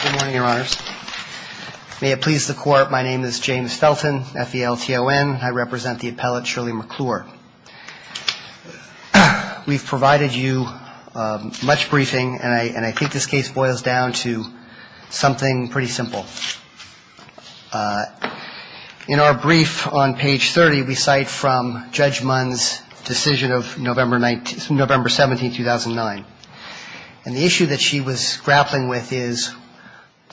Good morning, Your Honors. May it please the Court, my name is James Felton, F-E-L-T-O-N. I represent the appellate Shirley McClure. We've provided you much briefing, and I think this case boils down to something pretty simple. In our brief on page 30, we cite from Judge Munn's decision of November 17, 2009. And the issue that she was grappling with is,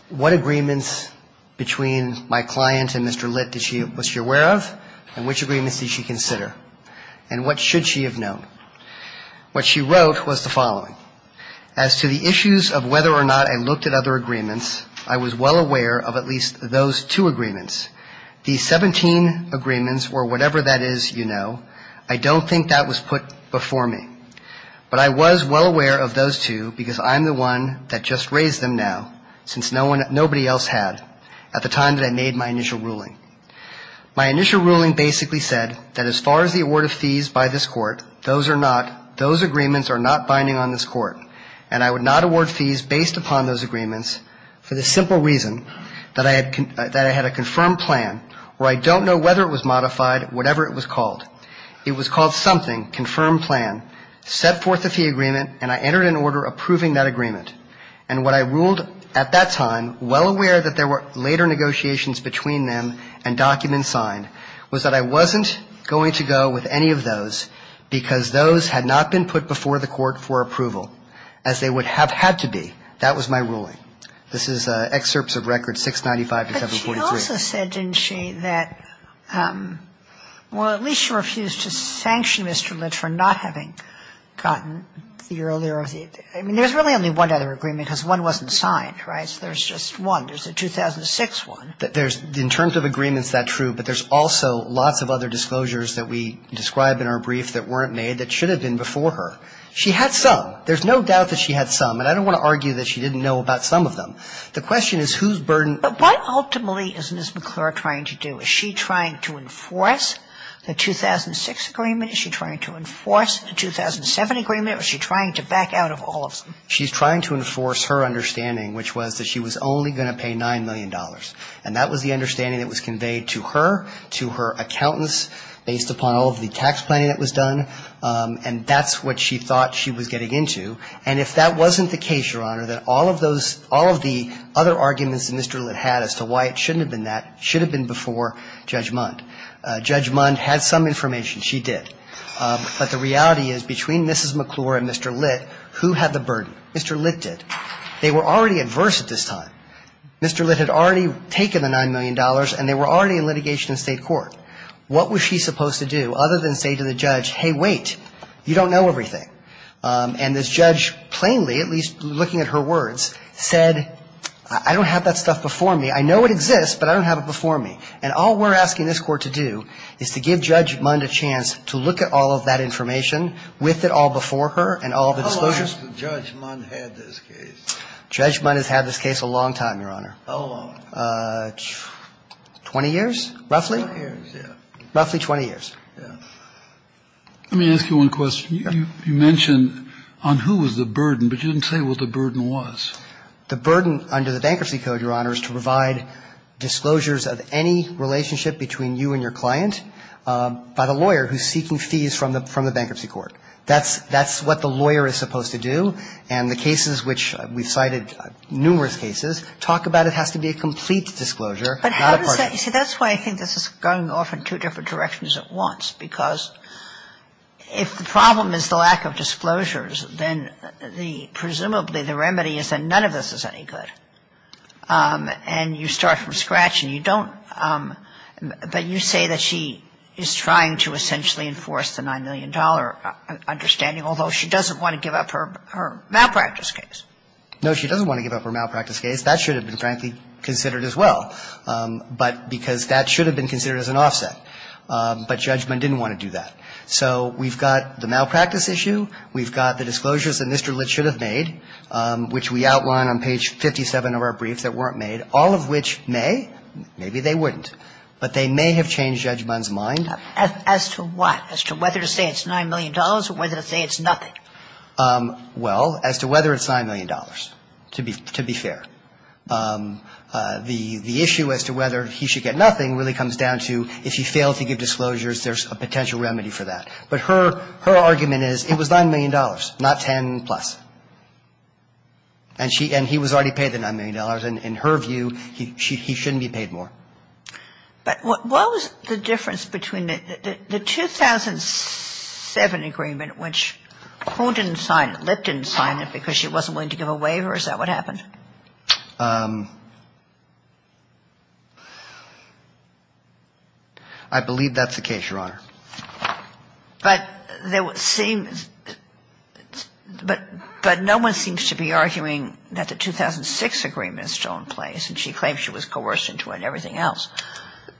what agreements between my client and Mr. Litt was she aware of, and which agreements did she consider? And what should she have known? What she wrote was the following. As to the issues of whether or not I looked at other agreements, I was well aware of at least those two agreements. These 17 agreements, or whatever that is you know, I don't think that was put before me. But I was well aware of those two, because I'm the one that just raised them now, since nobody else had at the time that I made my initial ruling. My initial ruling basically said that as far as the award of fees by this Court, those are not, those agreements are not binding on this Court. And I would not award fees based upon those agreements for the simple reason that I had a confirmed plan, or I don't know whether it was modified, whatever it was called. It was called something, confirmed plan, set forth a fee agreement, and I entered an order approving that agreement. And what I ruled at that time, well aware that there were later negotiations between them and documents signed, was that I wasn't going to go with any of those, because those had not been put before the Court for approval, as they would have had to be. That was my ruling. This is excerpts of records 695 to 743. But she also said, didn't she, that, well, at least she refused to sanction Mr. Litt for not having gotten the earlier of the, I mean, there's really only one other agreement, because one wasn't signed, right? So there's just one. There's a 2006 one. There's, in terms of agreements, that's true. But there's also lots of other disclosures that we describe in our brief that weren't made that should have been before her. She had some. There's no doubt that she had some. And I don't want to argue that she didn't know about some of them. The question is whose burden. But what ultimately is Ms. McClure trying to do? Is she trying to enforce the 2006 agreement? Is she trying to enforce the 2007 agreement? Or is she trying to back out of all of them? She's trying to enforce her understanding, which was that she was only going to pay $9 million. And that was the understanding that was conveyed to her, to her accountants, based upon all of the tax planning that was done. And that's what she thought she was getting into. And if that wasn't the case, Your Honor, that all of those, all of the other arguments that Mr. Litt had as to why it shouldn't have been that should have been before Judge Mundt. Judge Mundt had some information. She did. But the reality is between Mrs. McClure and Mr. Litt, who had the burden? Mr. Litt did. They were already adverse at this time. Mr. Litt had already taken the $9 million, and they were already in litigation in state court. What was she supposed to do other than say to the judge, hey, wait, you don't know everything? And this judge plainly, at least looking at her words, said, I don't have that stuff before me. I know it exists, but I don't have it before me. And all we're asking this Court to do is to give Judge Mundt a chance to look at all of that information with it all before her and all of the disclosures. How long has Judge Mundt had this case? Judge Mundt has had this case a long time, Your Honor. How long? Twenty years, roughly. Twenty years, yeah. Roughly 20 years. Yeah. Let me ask you one question. You mentioned on who was the burden, but you didn't say what the burden was. The burden under the Bankruptcy Code, Your Honor, is to provide disclosures of any relationship between you and your client by the lawyer who's seeking fees from the Bankruptcy Court. That's what the lawyer is supposed to do. And the cases which we've cited, numerous cases, talk about it has to be a complete disclosure, not a partial. But how does that – see, that's why I think this is going off in two different directions at once, because if the problem is the lack of disclosures, then presumably the remedy is that none of this is any good. And you start from scratch and you don't – but you say that she is trying to essentially enforce the $9 million understanding, although she doesn't want to give up her malpractice case. No, she doesn't want to give up her malpractice case. That should have been, frankly, considered as well, because that should have been considered as an offset. But Judge Mundt didn't want to do that. So we've got the malpractice issue. We've got the disclosures that Mr. Litt should have made, which we outline on page 57 of our briefs that weren't made, all of which may – maybe they wouldn't, but they may have changed Judge Mundt's mind. As to what? As to whether to say it's $9 million or whether to say it's nothing? Well, as to whether it's $9 million, to be fair. The issue as to whether he should get nothing really comes down to if he failed to give disclosures, there's a potential remedy for that. But her argument is it was $9 million, not 10-plus. And he was already paid the $9 million. In her view, he shouldn't be paid more. But what was the difference between the 2007 agreement, which who didn't sign it? Litt didn't sign it because she wasn't willing to give a waiver? Is that what happened? I believe that's the case, Your Honor. But no one seems to be arguing that the 2006 agreement is still in place, and she claims she was coerced into it and everything else.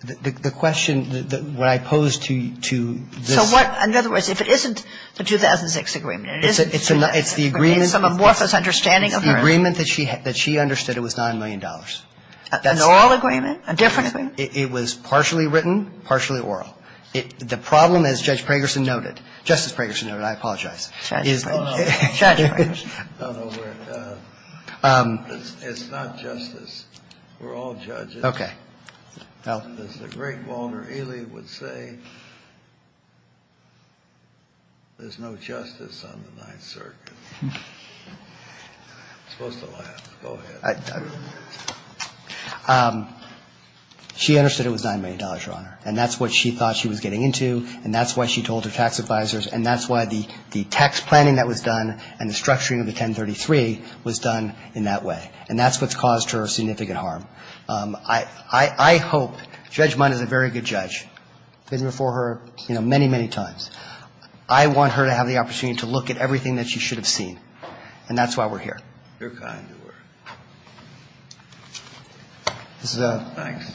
The question that I pose to this – So what – in other words, if it isn't the 2006 agreement, It's the agreement that she understood it was $9 million. An oral agreement? A different agreement? It was partially written, partially oral. The problem, as Judge Pragerson noted, Justice Pragerson noted, I apologize. Judge Pragerson. It's not justice. We're all judges. Okay. As the great Walter Ely would say, there's no justice on the Ninth Circuit. I'm supposed to laugh. Go ahead. She understood it was $9 million, Your Honor. And that's what she thought she was getting into, and that's why she told her tax advisors, and that's why the tax planning that was done and the structuring of the 1033 was done in that way. And that's what's caused her significant harm. I hope – Judge Mund is a very good judge. I've been before her, you know, many, many times. I want her to have the opportunity to look at everything that she should have seen, and that's why we're here. You're kind to her. This is a – Thanks.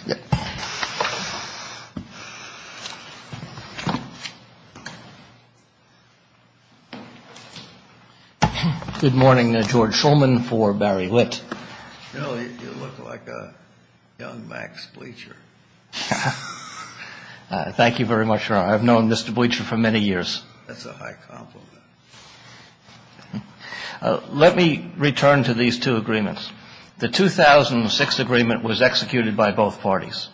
Good morning. George Shulman for Barry Witt. You know, you look like a young Max Bleacher. Thank you very much, Your Honor. I've known Mr. Bleacher for many years. That's a high compliment. Let me return to these two agreements. The 2006 agreement was executed by both parties.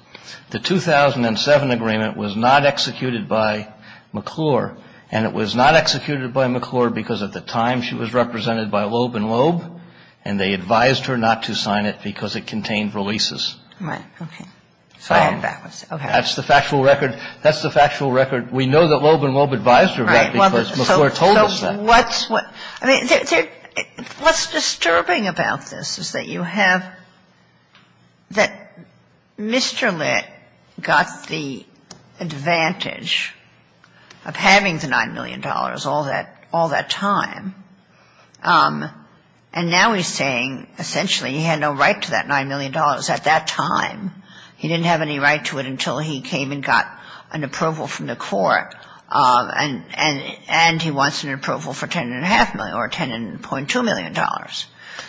The 2007 agreement was not executed by McClure, and it was not executed by McClure because at the time, she was represented by Loeb and Loeb, and they advised her not to sign it because it contained releases. Right. Okay. That's the factual record. That's the factual record. We know that Loeb and Loeb advised her of that because McClure told us that. I mean, what's disturbing about this is that you have – that Mr. Litt got the advantage of having the $9 million all that time, and now he's saying essentially he had no right to that $9 million at that time. He didn't have any right to it until he came and got an approval from the court, and he wants an approval for $10.5 million or $10.2 million.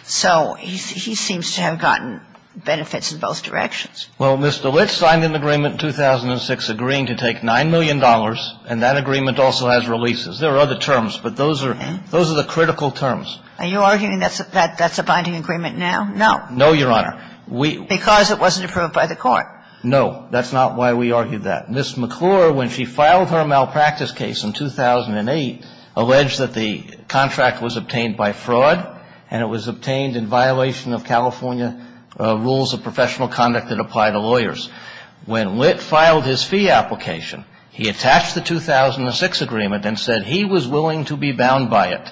So he seems to have gotten benefits in both directions. Well, Mr. Litt signed an agreement in 2006 agreeing to take $9 million, and that agreement also has releases. There are other terms, but those are the critical terms. Are you arguing that that's a binding agreement now? No. No, Your Honor. Because it wasn't approved by the court. No. That's not why we argued that. Ms. McClure, when she filed her malpractice case in 2008, alleged that the contract was obtained by fraud and it was obtained in violation of California rules of professional conduct that apply to lawyers. When Litt filed his fee application, he attached the 2006 agreement and said he was willing to be bound by it.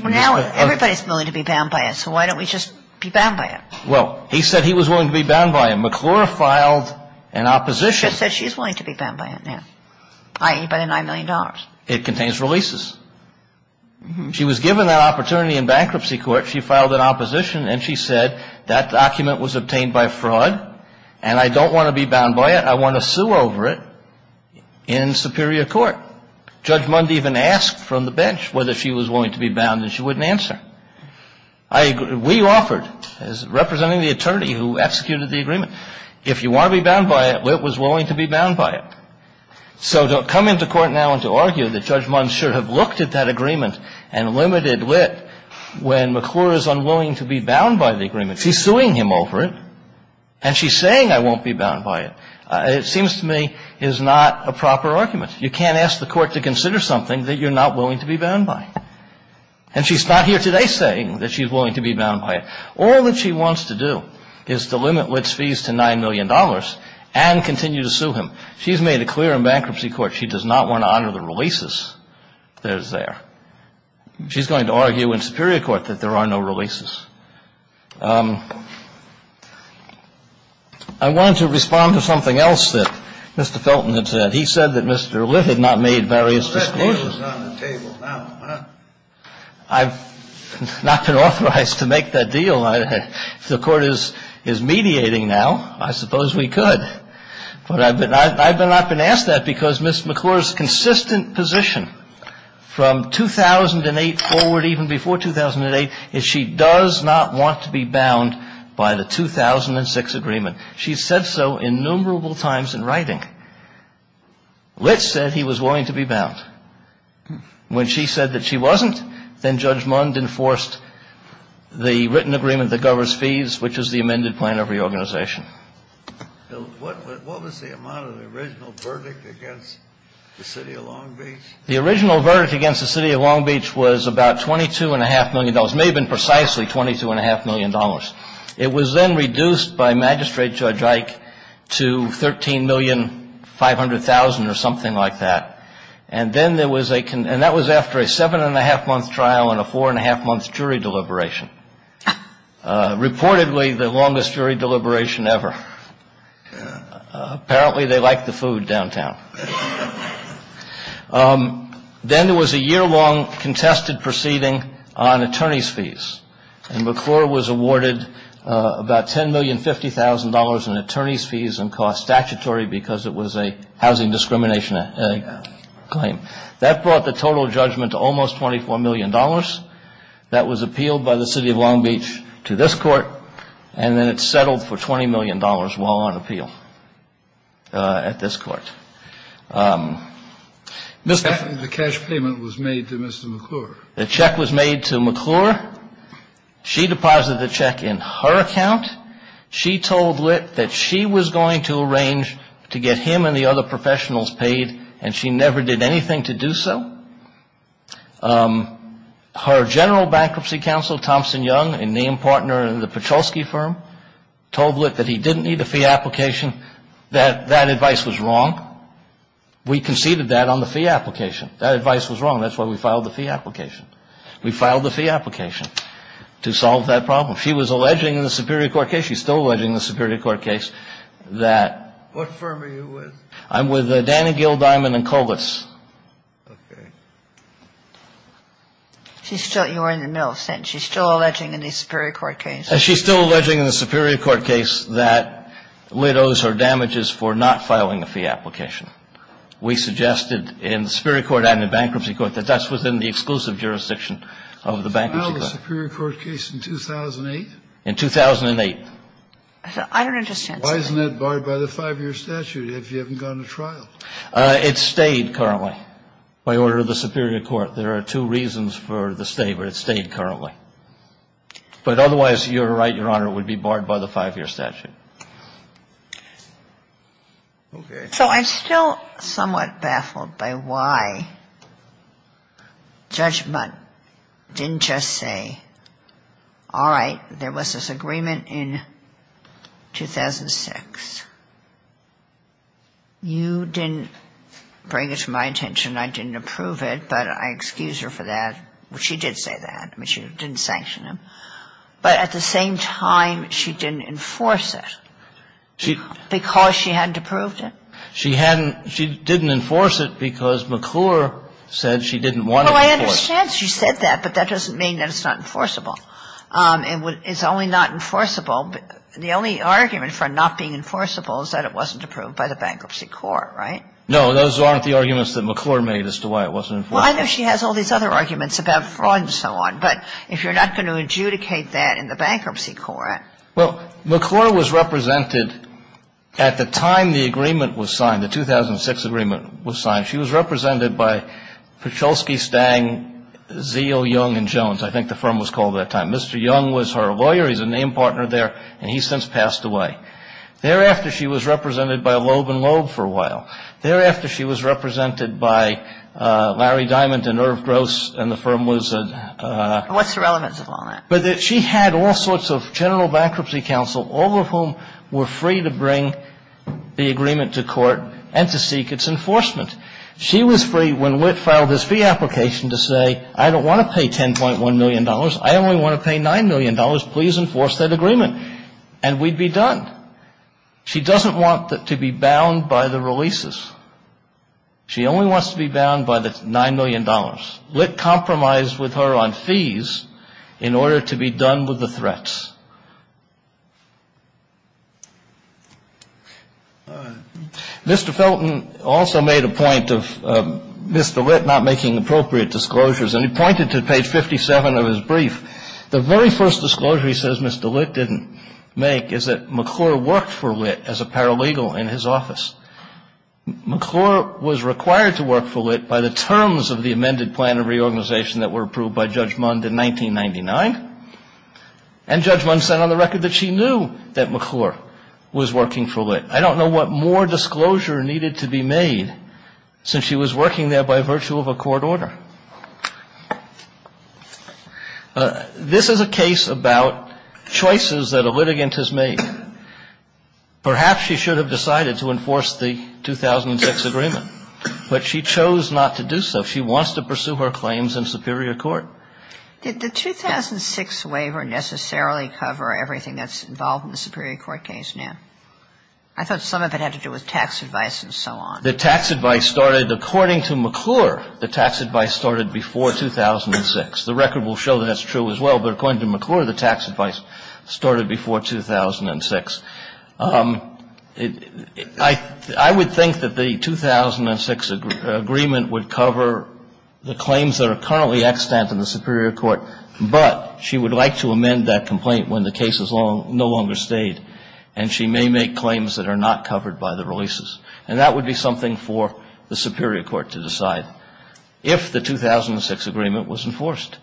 Well, now everybody's willing to be bound by it, so why don't we just be bound by it? Well, he said he was willing to be bound by it. McClure filed an opposition. He just said she's willing to be bound by it now, by the $9 million. It contains releases. She was given that opportunity in bankruptcy court. She filed an opposition, and she said that document was obtained by fraud, and I don't want to be bound by it. I want to sue over it in superior court. Judge Mund even asked from the bench whether she was willing to be bound, and she wouldn't answer. We offered, representing the attorney who executed the agreement, if you want to be bound by it, Litt was willing to be bound by it. So to come into court now and to argue that Judge Mund should have looked at that agreement and limited Litt when McClure is unwilling to be bound by the agreement. She's suing him over it, and she's saying I won't be bound by it. It seems to me is not a proper argument. You can't ask the Court to consider something that you're not willing to be bound by. And she's not here today saying that she's willing to be bound by it. All that she wants to do is to limit Litt's fees to $9 million and continue to sue him. She's made it clear in bankruptcy court she does not want to honor the releases that is there. She's going to argue in superior court that there are no releases. I wanted to respond to something else that Mr. Felton had said. He said that Mr. Litt had not made various excuses. I've not been authorized to make that deal. If the Court is mediating now, I suppose we could. But I've not been asked that because Ms. McClure's consistent position from 2008 forward, even before 2008, is she does not want to be bound by the 2006 agreement. She's said so innumerable times in writing. Litt said he was willing to be bound. When she said that she wasn't, then Judge Mund enforced the written agreement that governs fees, which is the amended plan of reorganization. What was the amount of the original verdict against the City of Long Beach? The original verdict against the City of Long Beach was about $22.5 million. It may have been precisely $22.5 million. It was then reduced by Magistrate Judge Ike to $13,500,000 or something like that. And that was after a seven-and-a-half-month trial and a four-and-a-half-month jury deliberation, reportedly the longest jury deliberation ever. Apparently they like the food downtown. Then there was a year-long contested proceeding on attorneys' fees. And McClure was awarded about $10,050,000 in attorneys' fees and cost statutory because it was a housing discrimination claim. That brought the total judgment to almost $24 million. That was appealed by the City of Long Beach to this Court, and then it settled for $20 million while on appeal at this Court. The cash payment was made to Mr. McClure. The check was made to McClure. She deposited the check in her account. She told Lit that she was going to arrange to get him and the other professionals paid, and she never did anything to do so. Her general bankruptcy counsel, Thompson Young, a name partner in the Pachulski firm, told Lit that he didn't need a fee application, that that advice was wrong. We conceded that on the fee application. That advice was wrong. That's why we filed the fee application. We filed the fee application to solve that problem. She was alleging in the Superior Court case. She's still alleging in the Superior Court case that ---- What firm are you with? I'm with Dannegill, Diamond, and Colas. Okay. She's still ---- you were in the middle of the sentence. She's still alleging in the Superior Court case. She's still alleging in the Superior Court case that Lit owes her damages for not filing a fee application. We suggested in the Superior Court and the Bankruptcy Court that that's within the exclusive jurisdiction of the Bankruptcy Court. In the Superior Court case in 2008? In 2008. I don't understand. Why isn't that barred by the 5-year statute if you haven't gone to trial? It's stayed currently by order of the Superior Court. There are two reasons for the stay, but it's stayed currently. But otherwise, you're right, Your Honor, it would be barred by the 5-year statute. Okay. So I'm still somewhat baffled by why Judge Mundt didn't just say, all right, there was this agreement in 2006. You didn't bring it to my attention. I didn't approve it, but I excuse her for that. She did say that. I mean, she didn't sanction him. But at the same time, she didn't enforce it because she hadn't approved it? She didn't enforce it because McClure said she didn't want to enforce it. Well, I understand she said that, but that doesn't mean that it's not enforceable. It's only not enforceable. The only argument for it not being enforceable is that it wasn't approved by the Bankruptcy Court, right? No, those aren't the arguments that McClure made as to why it wasn't enforced. Well, I know she has all these other arguments about fraud and so on. But if you're not going to adjudicate that in the Bankruptcy Court. Well, McClure was represented at the time the agreement was signed, the 2006 agreement was signed. She was represented by Picholsky, Stang, Zeal, Young, and Jones, I think the firm was called at that time. Mr. Young was her lawyer. He's a name partner there, and he's since passed away. Thereafter, she was represented by Loeb and Loeb for a while. Thereafter, she was represented by Larry Diamond and Irv Gross, and the firm was a... What's the relevance of all that? She had all sorts of general bankruptcy counsel, all of whom were free to bring the agreement to court and to seek its enforcement. She was free when Whit filed his fee application to say, I don't want to pay $10.1 million. I only want to pay $9 million. Please enforce that agreement. And we'd be done. She doesn't want to be bound by the releases. She only wants to be bound by the $9 million. Litt compromised with her on fees in order to be done with the threats. Mr. Felton also made a point of Mr. Litt not making appropriate disclosures, and he pointed to page 57 of his brief. The very first disclosure he says Mr. Litt didn't make is that McClure worked for Litt as a paralegal in his office. McClure was required to work for Litt by the terms of the amended plan of reorganization that were approved by Judge Mund in 1999, and Judge Mund said on the record that she knew that McClure was working for Litt. I don't know what more disclosure needed to be made since she was working there by virtue of a court order. This is a case about choices that a litigant has made. Perhaps she should have decided to enforce the 2006 agreement, but she chose not to do so. She wants to pursue her claims in superior court. Did the 2006 waiver necessarily cover everything that's involved in the superior court case now? I thought some of it had to do with tax advice and so on. The tax advice started, according to McClure, the tax advice started before 2006. The record will show that that's true as well, but according to McClure, the tax advice started before 2006. I would think that the 2006 agreement would cover the claims that are currently extant in the superior court, but she would like to amend that complaint when the case is no longer stayed, and she may make claims that are not covered by the releases. And that would be something for the superior court to decide if the 2006 agreement was enforced.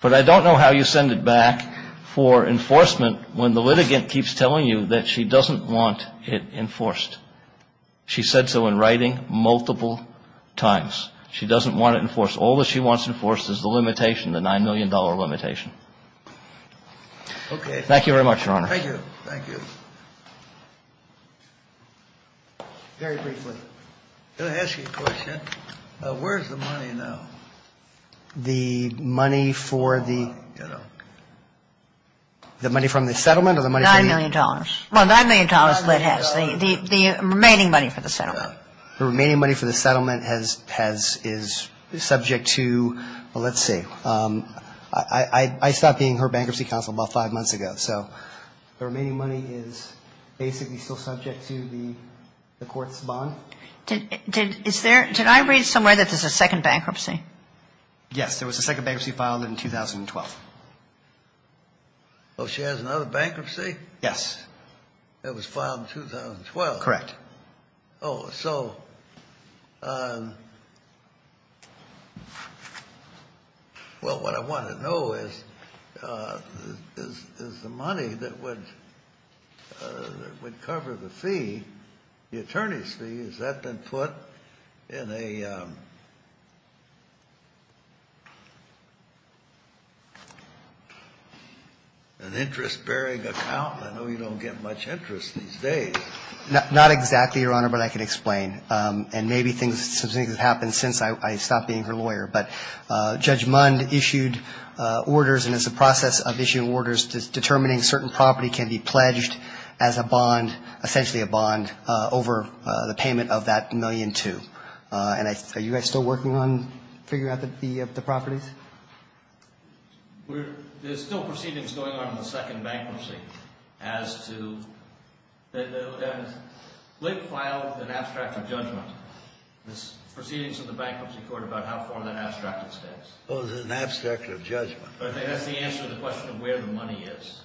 But I don't know how you send it back for enforcement when the litigant keeps telling you that she doesn't want it enforced. She said so in writing multiple times. She doesn't want it enforced. All that she wants enforced is the limitation, the $9 million limitation. Thank you very much, Your Honor. Thank you. Thank you. Very briefly. Can I ask you a question? Where's the money now? The money for the, you know, the money from the settlement or the money from the? $9 million. Well, $9 million lit has. The remaining money for the settlement. The remaining money for the settlement has, is subject to, well, let's see. I stopped being her bankruptcy counsel about five months ago, so the remaining money is basically still subject to the court's bond. Did I read somewhere that there's a second bankruptcy? Yes. There was a second bankruptcy filed in 2012. Oh, she has another bankruptcy? Yes. It was filed in 2012? Correct. Oh, so, well, what I want to know is, is the money that would cover the fee, the attorney's fee, has that been put in an interest-bearing account? I know you don't get much interest these days. Not exactly, Your Honor, but I can explain. And maybe some things have happened since I stopped being her lawyer. But Judge Mund issued orders, and it's a process of issuing orders, determining certain property can be pledged as a bond, essentially a bond, over the payment of that $1.2 million. And are you guys still working on figuring out the properties? There's still proceedings going on in the second bankruptcy as to the late file, an abstract of judgment. There's proceedings in the Bankruptcy Court about how far that abstractive stands. Oh, the abstract of judgment. That's the answer to the question of where the money is.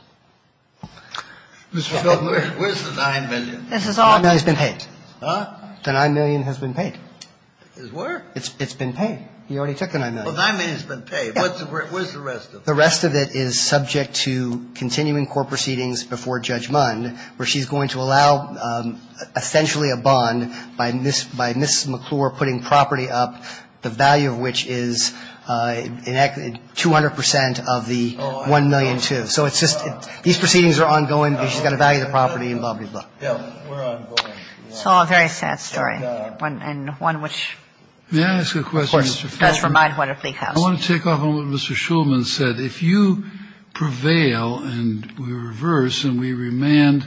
Mr. Feldman, where's the $9 million? $9 million has been paid. Huh? The $9 million has been paid. It's where? It's been paid. He already took the $9 million. $9 million has been paid. Where's the rest of it? The rest of it is subject to continuing court proceedings before Judge Mund, where she's going to allow essentially a bond by Ms. McClure putting property up, the value of which is 200 percent of the $1,000,002. So it's just these proceedings are ongoing, but she's got to value the property and blah, blah, blah. It's all a very sad story, and one which, of course, does remind what it was. I want to take off on what Mr. Shulman said. If you prevail and we reverse and we remand,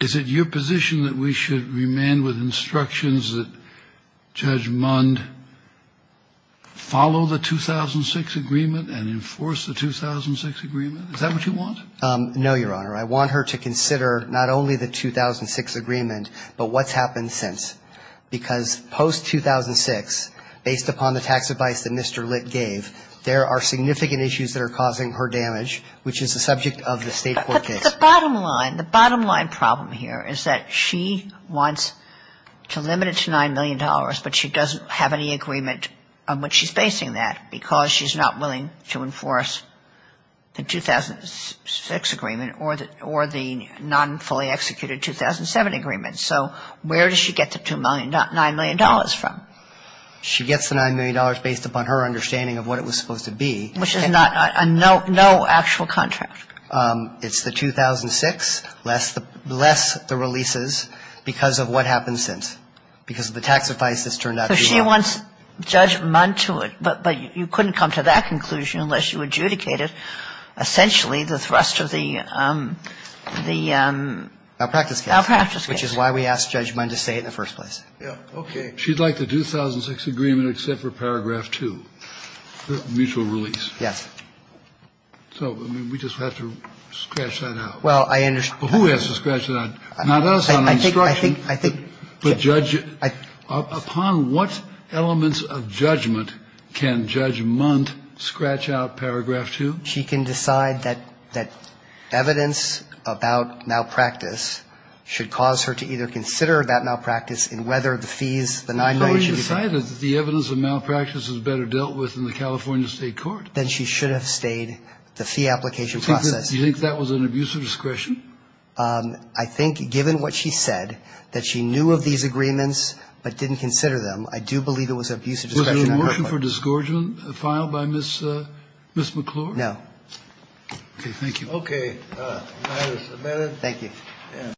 is it your position that we should remand with instructions that Judge Mund follow the 2006 agreement and enforce the 2006 agreement? Is that what you want? No, Your Honor. I want her to consider not only the 2006 agreement, but what's happened since. Because post-2006, based upon the tax advice that Mr. Litt gave, there are significant issues that are causing her damage, which is the subject of the State court case. But the bottom line, the bottom line problem here is that she wants to limit it to $9 million, but she doesn't have any agreement on which she's basing that because she's not willing to enforce the 2006 agreement or the non-fully executed 2007 agreement. So where does she get the $9 million from? She gets the $9 million based upon her understanding of what it was supposed to be. Which is not a no actual contract. It's the 2006, less the releases, because of what happened since, because of the tax advice that's turned out to be wrong. So she wants Judge Mund to it, but you couldn't come to that conclusion unless you adjudicate it, essentially the thrust of the, the... Malpractice case. Which is why we asked Judge Mund to say it in the first place. Okay. She'd like the 2006 agreement except for paragraph 2, the mutual release. Yes. So, I mean, we just have to scratch that out. Well, I understand. Who has to scratch that out? Not us on the instruction. I think, I think... But Judge, upon what elements of judgment can Judge Mund scratch out paragraph 2? She can decide that, that evidence about malpractice should cause her to either consider that malpractice in whether the fees, the $9 million should be paid... The evidence of malpractice is better dealt with in the California State Court. Then she should have stayed the fee application process. Do you think that was an abuse of discretion? I think given what she said, that she knew of these agreements but didn't consider them, I do believe it was abuse of discretion. Was there a motion for disgorgement filed by Ms. McClure? No. Okay. Thank you. Okay. That is amended.